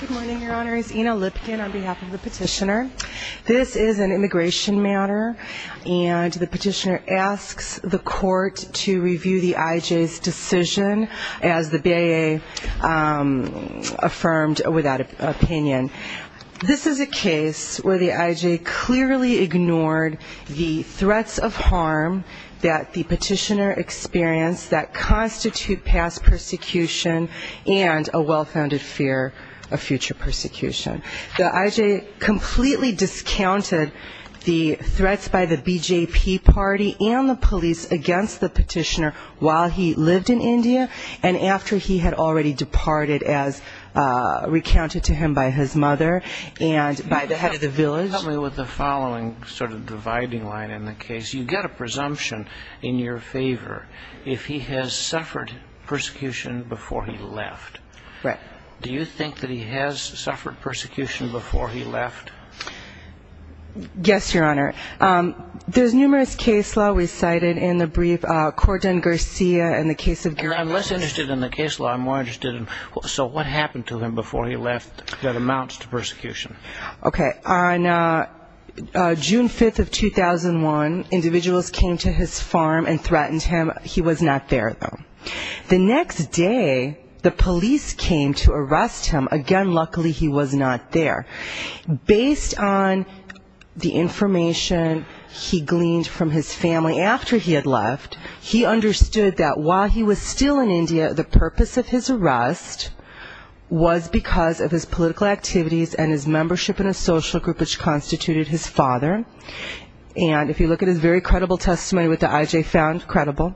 Good morning, your honors. Ina Lipkin on behalf of the petitioner. This is an immigration matter, and the petitioner asks the court to review the IJ's decision as the BIA affirmed without opinion. This is a case where the IJ clearly ignored the threats of harm that the petitioner experienced that constitute past persecution and a well-founded fear for the future of the IJ. The IJ completely discounted the threats by the BJP party and the police against the petitioner while he lived in India and after he had already departed as recounted to him by his mother and by the head of the village. Do you think that he has suffered persecution before he left? Yes, your honor. There's numerous case law recited in the brief. I'm less interested in the case law. I'm more interested in what happened to him before he left that amounts to persecution. Okay. On June 5th of 2001, individuals came to his farm and threatened him. He was not there, though. The next day, the police came to arrest him. Again, luckily he was not there. Based on the information he gleaned from his family after he had left, he understood that while he was still in India, the purpose of his arrest was because of his political activities and his membership in a social group which constituted his father. And if you look at his very credible testimony, what the IJ found credible,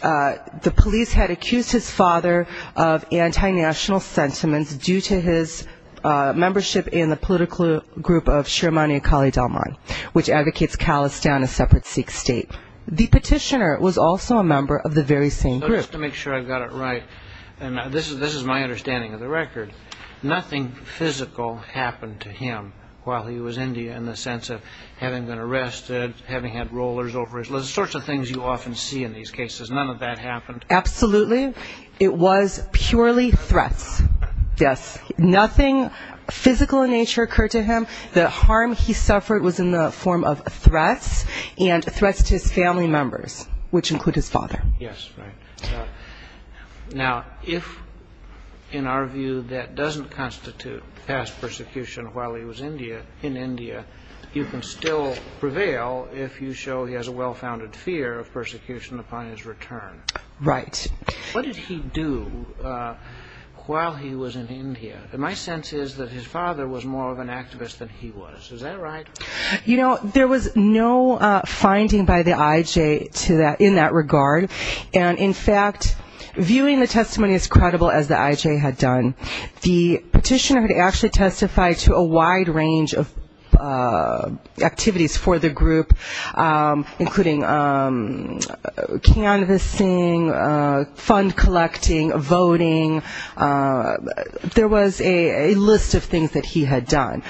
the police had accused his father of anti-national sentiments due to his membership in the political group of Shirmani Akali Dalman, which advocates callous down a separate Sikh state. The petitioner was also a member of the very same group. Just to make sure I've got it right, and this is my understanding of the record, nothing physical happened to him while he was in India in the sense of having been arrested, having had rollers over his legs, the sorts of things you often see in these cases. None of that happened? Absolutely. It was purely threats. Yes. Nothing physical in nature occurred to him. The harm he suffered was in the form of threats and threats to his family members, which include his father. Yes, right. Now, if in our view that doesn't constitute past persecution while he was in India, you can still prevail if you show he has a well-founded fear of persecution upon his return. Right. What did he do while he was in India? My sense is that his father was more of an activist than he was. Is that right? You know, there was no finding by the IJ in that regard, and in fact, viewing the testimony as credible as the IJ had done, the petitioner had actually testified to a wide range of activities for the group, including canvassing, fund collecting, voting. There was a list of things that he had done.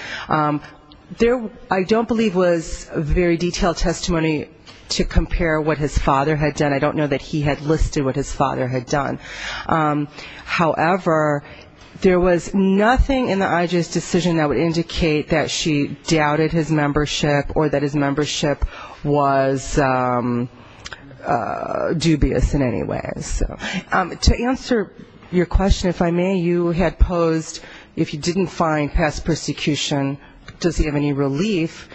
There, I don't believe, was very detailed testimony to compare what his father had done. I don't know that he had listed what his father had done. However, there was nothing in the IJ's decision that would indicate that she doubted his membership or that his membership was dubious in any way. To answer your question, if I may, you had posed, if he didn't find past persecution, does he have any relief?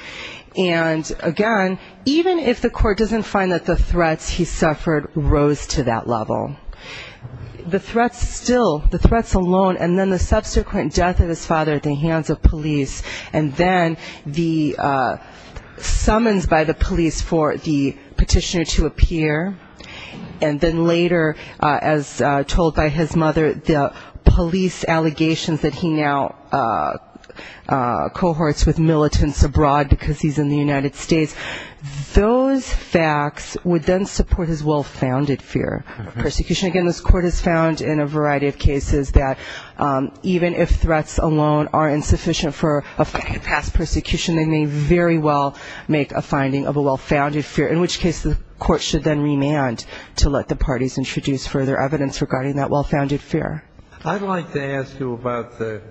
And, again, even if the court doesn't find that the threats he suffered rose to that level, the threats still, the threats alone and then the subsequent death of his father at the hands of police and then the summons by the police for the petitioner to appear and then later the death of his father. As told by his mother, the police allegations that he now cohorts with militants abroad because he's in the United States, those facts would then support his well-founded fear of persecution. Again, this court has found in a variety of cases that even if threats alone are insufficient for a past persecution, they may very well make a finding of a well-founded fear, in which case the court should then remand to let the parties introduce further evidence regarding that well-founded fear. I'd like to ask you about the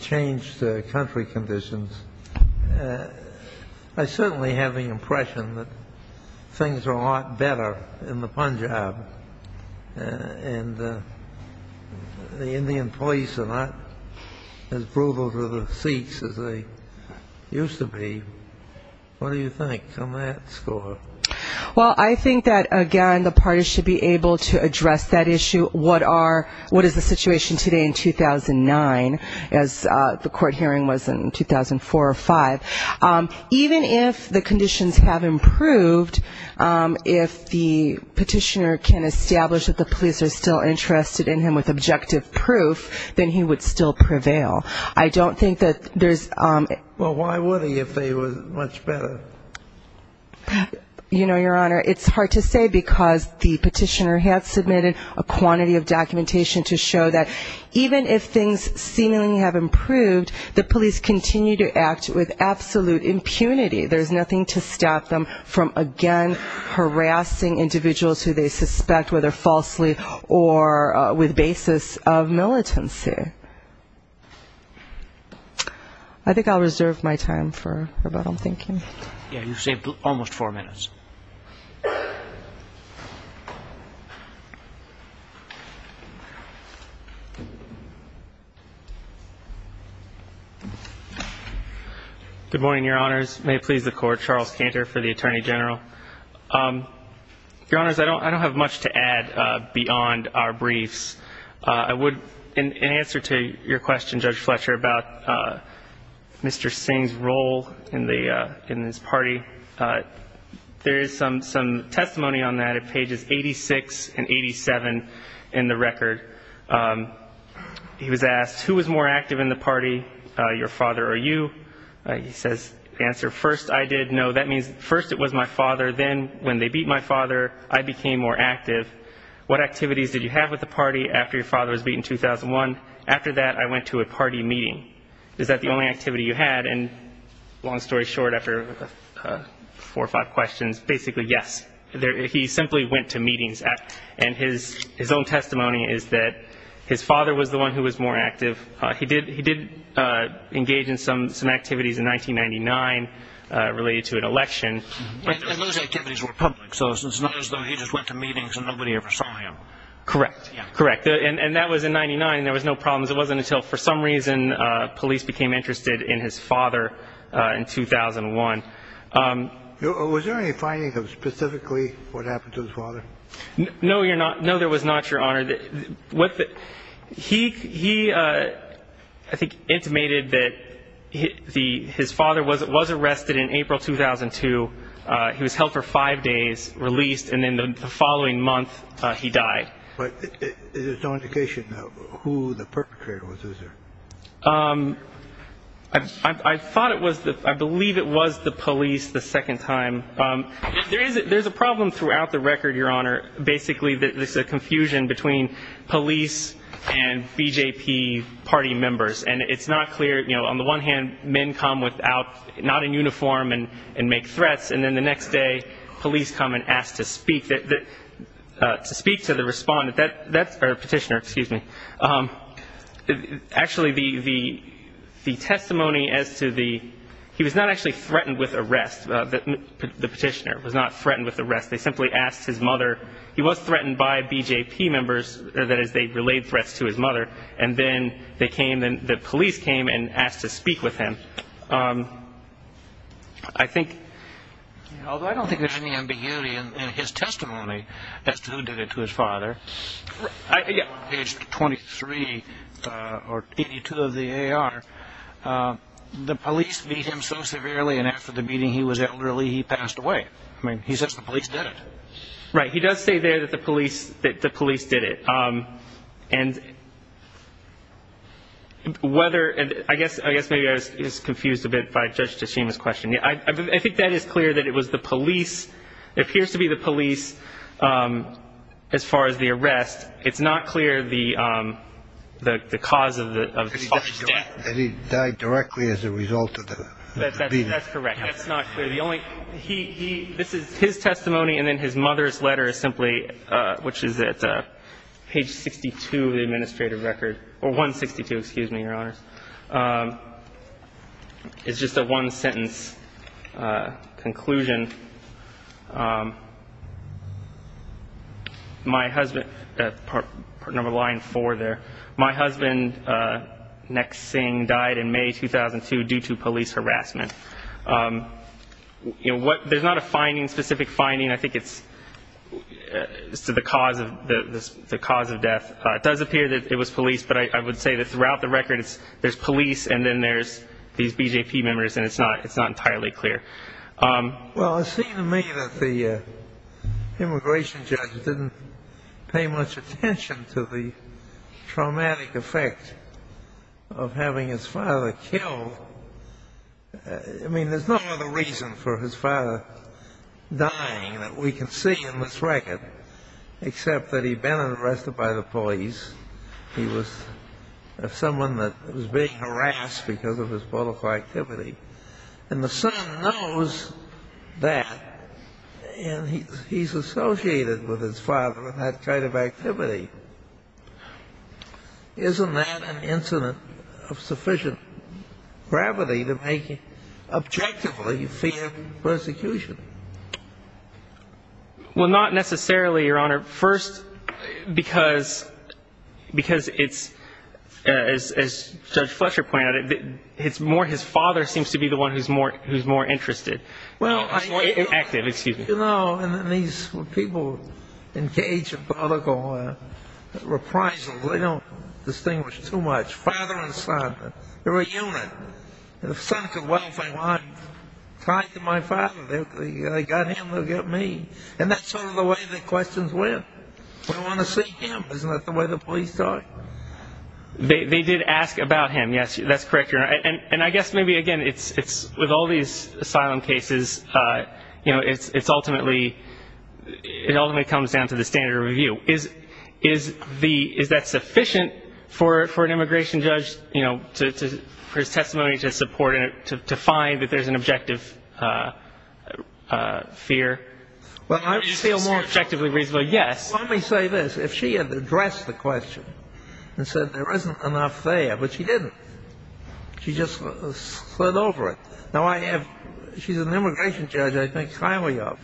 change to country conditions. I certainly have the impression that things are a lot better in the Punjab. And the Indian police are not as brutal to the Sikhs as they used to be. What do you think on that score? Well, I think that, again, the parties should be able to address that issue, what is the situation today in 2009, as the court hearing was in 2004 or 5. Even if the conditions have improved, if the petitioner can establish that the police are still interested in him with objective proof, then he would still prevail. I don't think that there's... Well, why would he if they were much better? You know, Your Honor, it's hard to say because the petitioner has submitted a quantity of documentation to show that even if things seemingly have improved, the police continue to act with absolute impunity. There's nothing to stop them from, again, harassing individuals who they suspect, whether falsely or with basis of militancy. Okay. I think I'll reserve my time for rebuttal. Thank you. Yeah, you've saved almost four minutes. Good morning, Your Honors. May it please the court, Charles Cantor for the Attorney General. Your Honors, I don't have much to add beyond our briefs. In answer to your question, Judge Fletcher, about Mr. Singh's role in this party, there is some testimony on that at pages 86 and 87 in the record. He was asked, who was more active in the party, your father or you? He says, answer, first I did, no, that means first it was my father. Then when they beat my father, I became more active. What activities did you have with the party after your father was beaten in 2001? After that, I went to a party meeting. Is that the only activity you had? And long story short, after four or five questions, basically, yes. He simply went to meetings. And his own testimony is that his father was the one who was more active. He did engage in some activities in 1999 related to an election. And those activities were public, so it's not as though he just went to meetings and nobody ever saw him. Correct, correct. And that was in 99. There was no problems. It wasn't until for some reason police became interested in his father in 2001. Was there any finding of specifically what happened to his father? No, there was not, Your Honor. He, I think, intimated that his father was arrested in April 2002. He was held for five days, released, and then the following month he died. But there's no indication of who the perpetrator was, is there? I believe it was the police the second time. There's a problem throughout the record, Your Honor. Basically, there's a confusion between police and BJP party members. And it's not clear, you know, on the one hand, men come without, not in uniform and make threats. And then the next day, police come and ask to speak to the respondent, or petitioner, excuse me. Actually, the testimony as to the, he was not actually threatened with arrest, the petitioner was not threatened with arrest. They simply asked his mother. He was threatened by BJP members, that is, they relayed threats to his mother. And then they came, the police came and asked to speak with him. I think, although I don't think there's any ambiguity in his testimony as to who did it to his father. On page 23, or 82 of the AR, the police beat him so severely and after the beating he was elderly, he passed away. I mean, he says the police did it. And whether, I guess maybe I was confused a bit by Judge Tashima's question. I think that is clear that it was the police, it appears to be the police, as far as the arrest. It's not clear the cause of the death. That he died directly as a result of the beating. That's correct. That's not clear. The only, he, this is his testimony and then his mother's letter is simply, which is at page 62 of the administrative record. Or 162, excuse me, Your Honors. It's just a one sentence conclusion. My husband, part number line four there, my husband, Nek Singh, died in May 2002 due to police harassment. There's not a finding, specific finding, I think it's to the cause of death. It does appear that it was police, but I would say that throughout the record there's police and then there's these BJP members and it's not entirely clear. Well, it seems to me that the immigration judge didn't pay much attention to the traumatic effect of having his father killed. I mean, there's no other reason for his father dying that we can see in this record, except that he'd been arrested by the police. He was someone that was being harassed because of his political activity. And the son knows that and he's associated with his father in that kind of activity. Isn't that an incident of sufficient gravity to make him objectively fear persecution? Well, not necessarily, Your Honor. First, because it's, as Judge Fletcher pointed out, it's more his father seems to be the one who's more interested. Well, you know, and these people engage in political reprisals, they don't distinguish too much. Father and son, they're a unit. The son could well say, well, I'm tied to my father. They got him, they'll get me. And that's sort of the way the questions were. We want to see him. Isn't that the way the police talk? They did ask about him, yes. That's correct, Your Honor. And I guess maybe, again, with all these asylum cases, you know, it ultimately comes down to the standard of review. Is that sufficient for an immigration judge, you know, for his testimony to support it, to find that there's an objective fear? Well, I feel more objectively reasonable, yes. Well, let me say this. If she had addressed the question and said there isn't enough there, but she didn't, she just slid over it. She's an immigration judge, I think, highly of.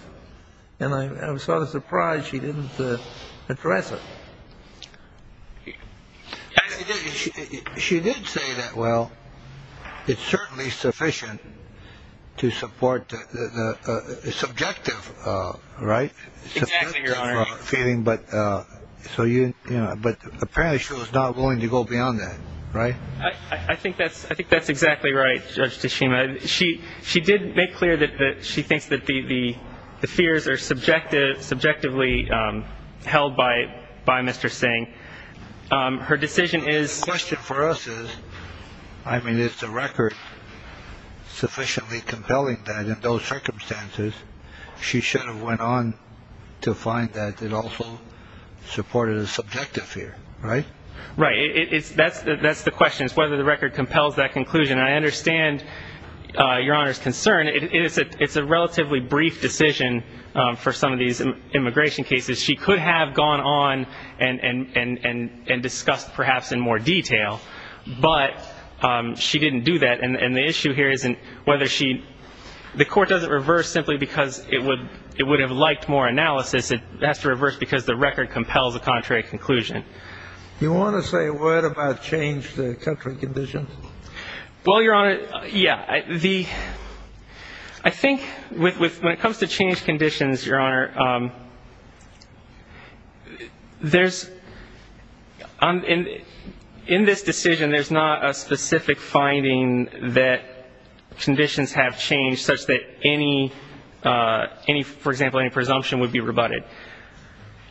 And I'm sort of surprised she didn't address it. She did say that, well, it's certainly sufficient to support the subjective, right? Exactly, Your Honor. But apparently she was not willing to go beyond that, right? I think that's exactly right, Judge Tashima. She did make clear that she thinks that the fears are subjectively held by Mr. Singh. Her decision is. The question for us is, I mean, is the record sufficiently compelling that in those circumstances, she should have went on to find that it also supported a subjective fear, right? Right. That's the question. It's whether the record compels that conclusion. And I understand Your Honor's concern. It's a relatively brief decision for some of these immigration cases. She could have gone on and discussed perhaps in more detail, but she didn't do that. And the issue here isn't whether she – the court doesn't reverse simply because it would have liked more analysis. It has to reverse because the record compels a contrary conclusion. Do you want to say a word about change to country conditions? Well, Your Honor, yeah. I think when it comes to change conditions, Your Honor, there's – in this decision, there's not a specific finding that conditions have changed such that any, for example, any presumption would be rebutted.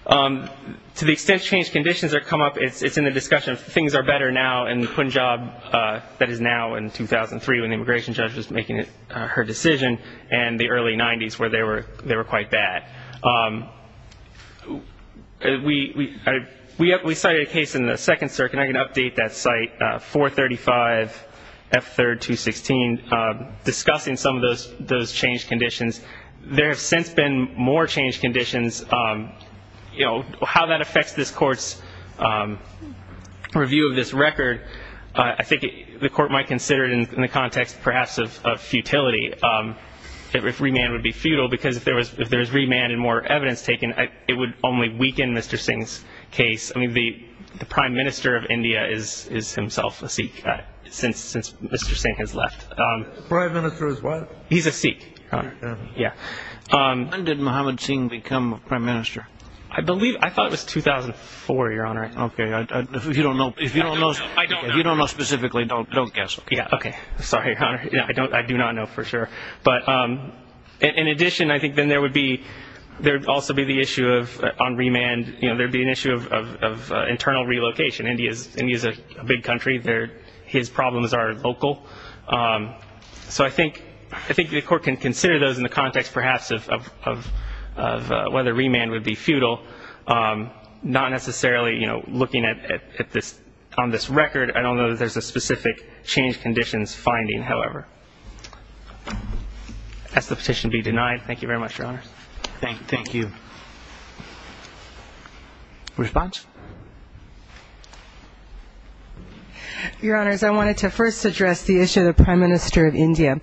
To the extent change conditions have come up, it's in the discussion of things are better now in Punjab, that is now in 2003 when the immigration judge was making her decision, and the early 90s where they were quite bad. We cited a case in the Second Circuit, and I can update that site, 435F3216, discussing some of those change conditions. There have since been more change conditions. You know, how that affects this court's review of this record, I think the court might consider it in the context perhaps of futility, if remand would be futile, because if there is remand and more evidence taken, it would only weaken Mr. Singh's case. I mean, the prime minister of India is himself a Sikh since Mr. Singh has left. The prime minister is what? He's a Sikh. Yeah. When did Mohammad Singh become prime minister? I believe, I thought it was 2004, Your Honor. Okay. If you don't know specifically, don't guess. Yeah, okay. Sorry, Your Honor. I do not know for sure. But in addition, I think then there would be, there would also be the issue of, on remand, you know, there would be an issue of internal relocation. India is a big country. His problems are local. So I think the court can consider those in the context perhaps of whether remand would be futile, not necessarily, you know, looking at this on this record. I don't know that there's a specific change conditions finding, however. Has the petition been denied? Thank you very much, Your Honor. Thank you. Response? Your Honors, I wanted to first address the issue of the prime minister of India.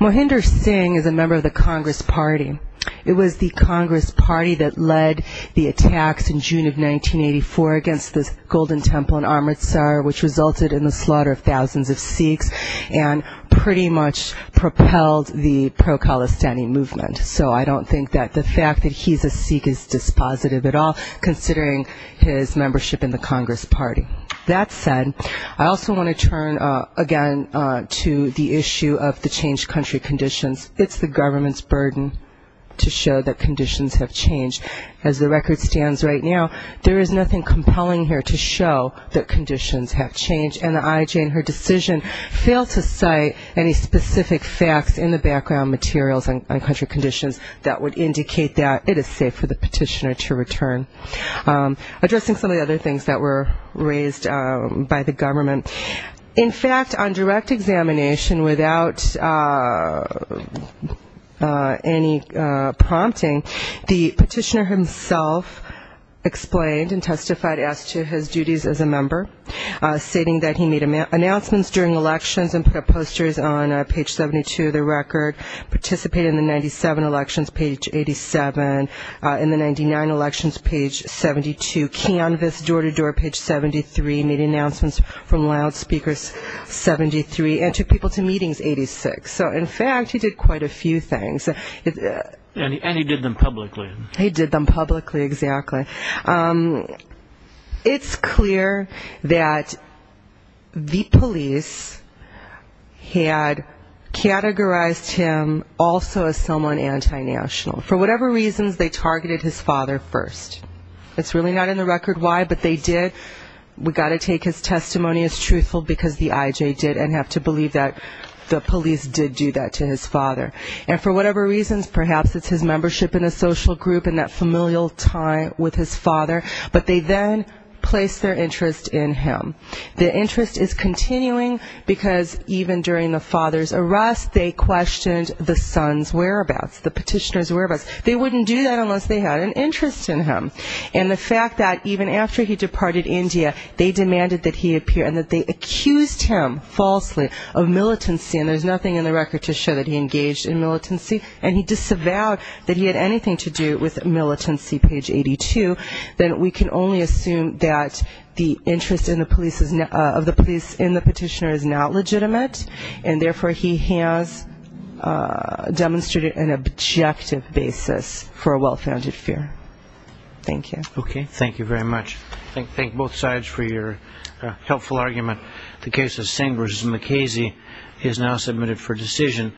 Mohinder Singh is a member of the Congress Party. It was the Congress Party that led the attacks in June of 1984 against the Golden Temple in Amritsar, which resulted in the slaughter of thousands of Sikhs and pretty much propelled the pro-Khalistani movement. So I don't think that the fact that he's a Sikh is dispositive at all, considering his membership in the Congress Party. That said, I also want to turn, again, to the issue of the changed country conditions. It's the government's burden to show that conditions have changed. As the record stands right now, there is nothing compelling here to show that conditions have changed, and the IJ in her decision failed to cite any specific facts in the background materials on country conditions that would indicate that it is safe for the petitioner to return. Addressing some of the other things that were raised by the government, in fact, on direct examination without any prompting, the petitioner himself explained and testified as to his duties as a member, stating that he made announcements during elections and put up posters on page 72 of the record, participated in the 97 elections, page 87, in the 99 elections, page 72, canvassed door-to-door, page 73, made announcements from loudspeakers, 73, and took people to meetings, 86. So, in fact, he did quite a few things. And he did them publicly. He did them publicly, exactly. It's clear that the police had categorized him also as someone anti-national. For whatever reasons, they targeted his father first. It's really not in the record why, but they did. We've got to take his testimony as truthful, because the IJ did, and have to believe that the police did do that to his father. And for whatever reasons, perhaps it's his membership in a social group and that familial tie with his father, but they then placed their interest in him. The interest is continuing, because even during the father's arrest, they questioned the son's whereabouts, the petitioner's whereabouts. They wouldn't do that unless they had an interest in him. And the fact that even after he departed India, they demanded that he appear and that they accused him falsely of militancy, and there's nothing in the record to show that he engaged in militancy. And he disavowed that he had anything to do with militancy, page 82. Then we can only assume that the interest of the police in the petitioner is not legitimate, and therefore he has demonstrated an objective basis for a well-founded fear. Thank you. Okay, thank you very much. Thank both sides for your helpful argument. The case of Singh v. McKeezy is now submitted for decision.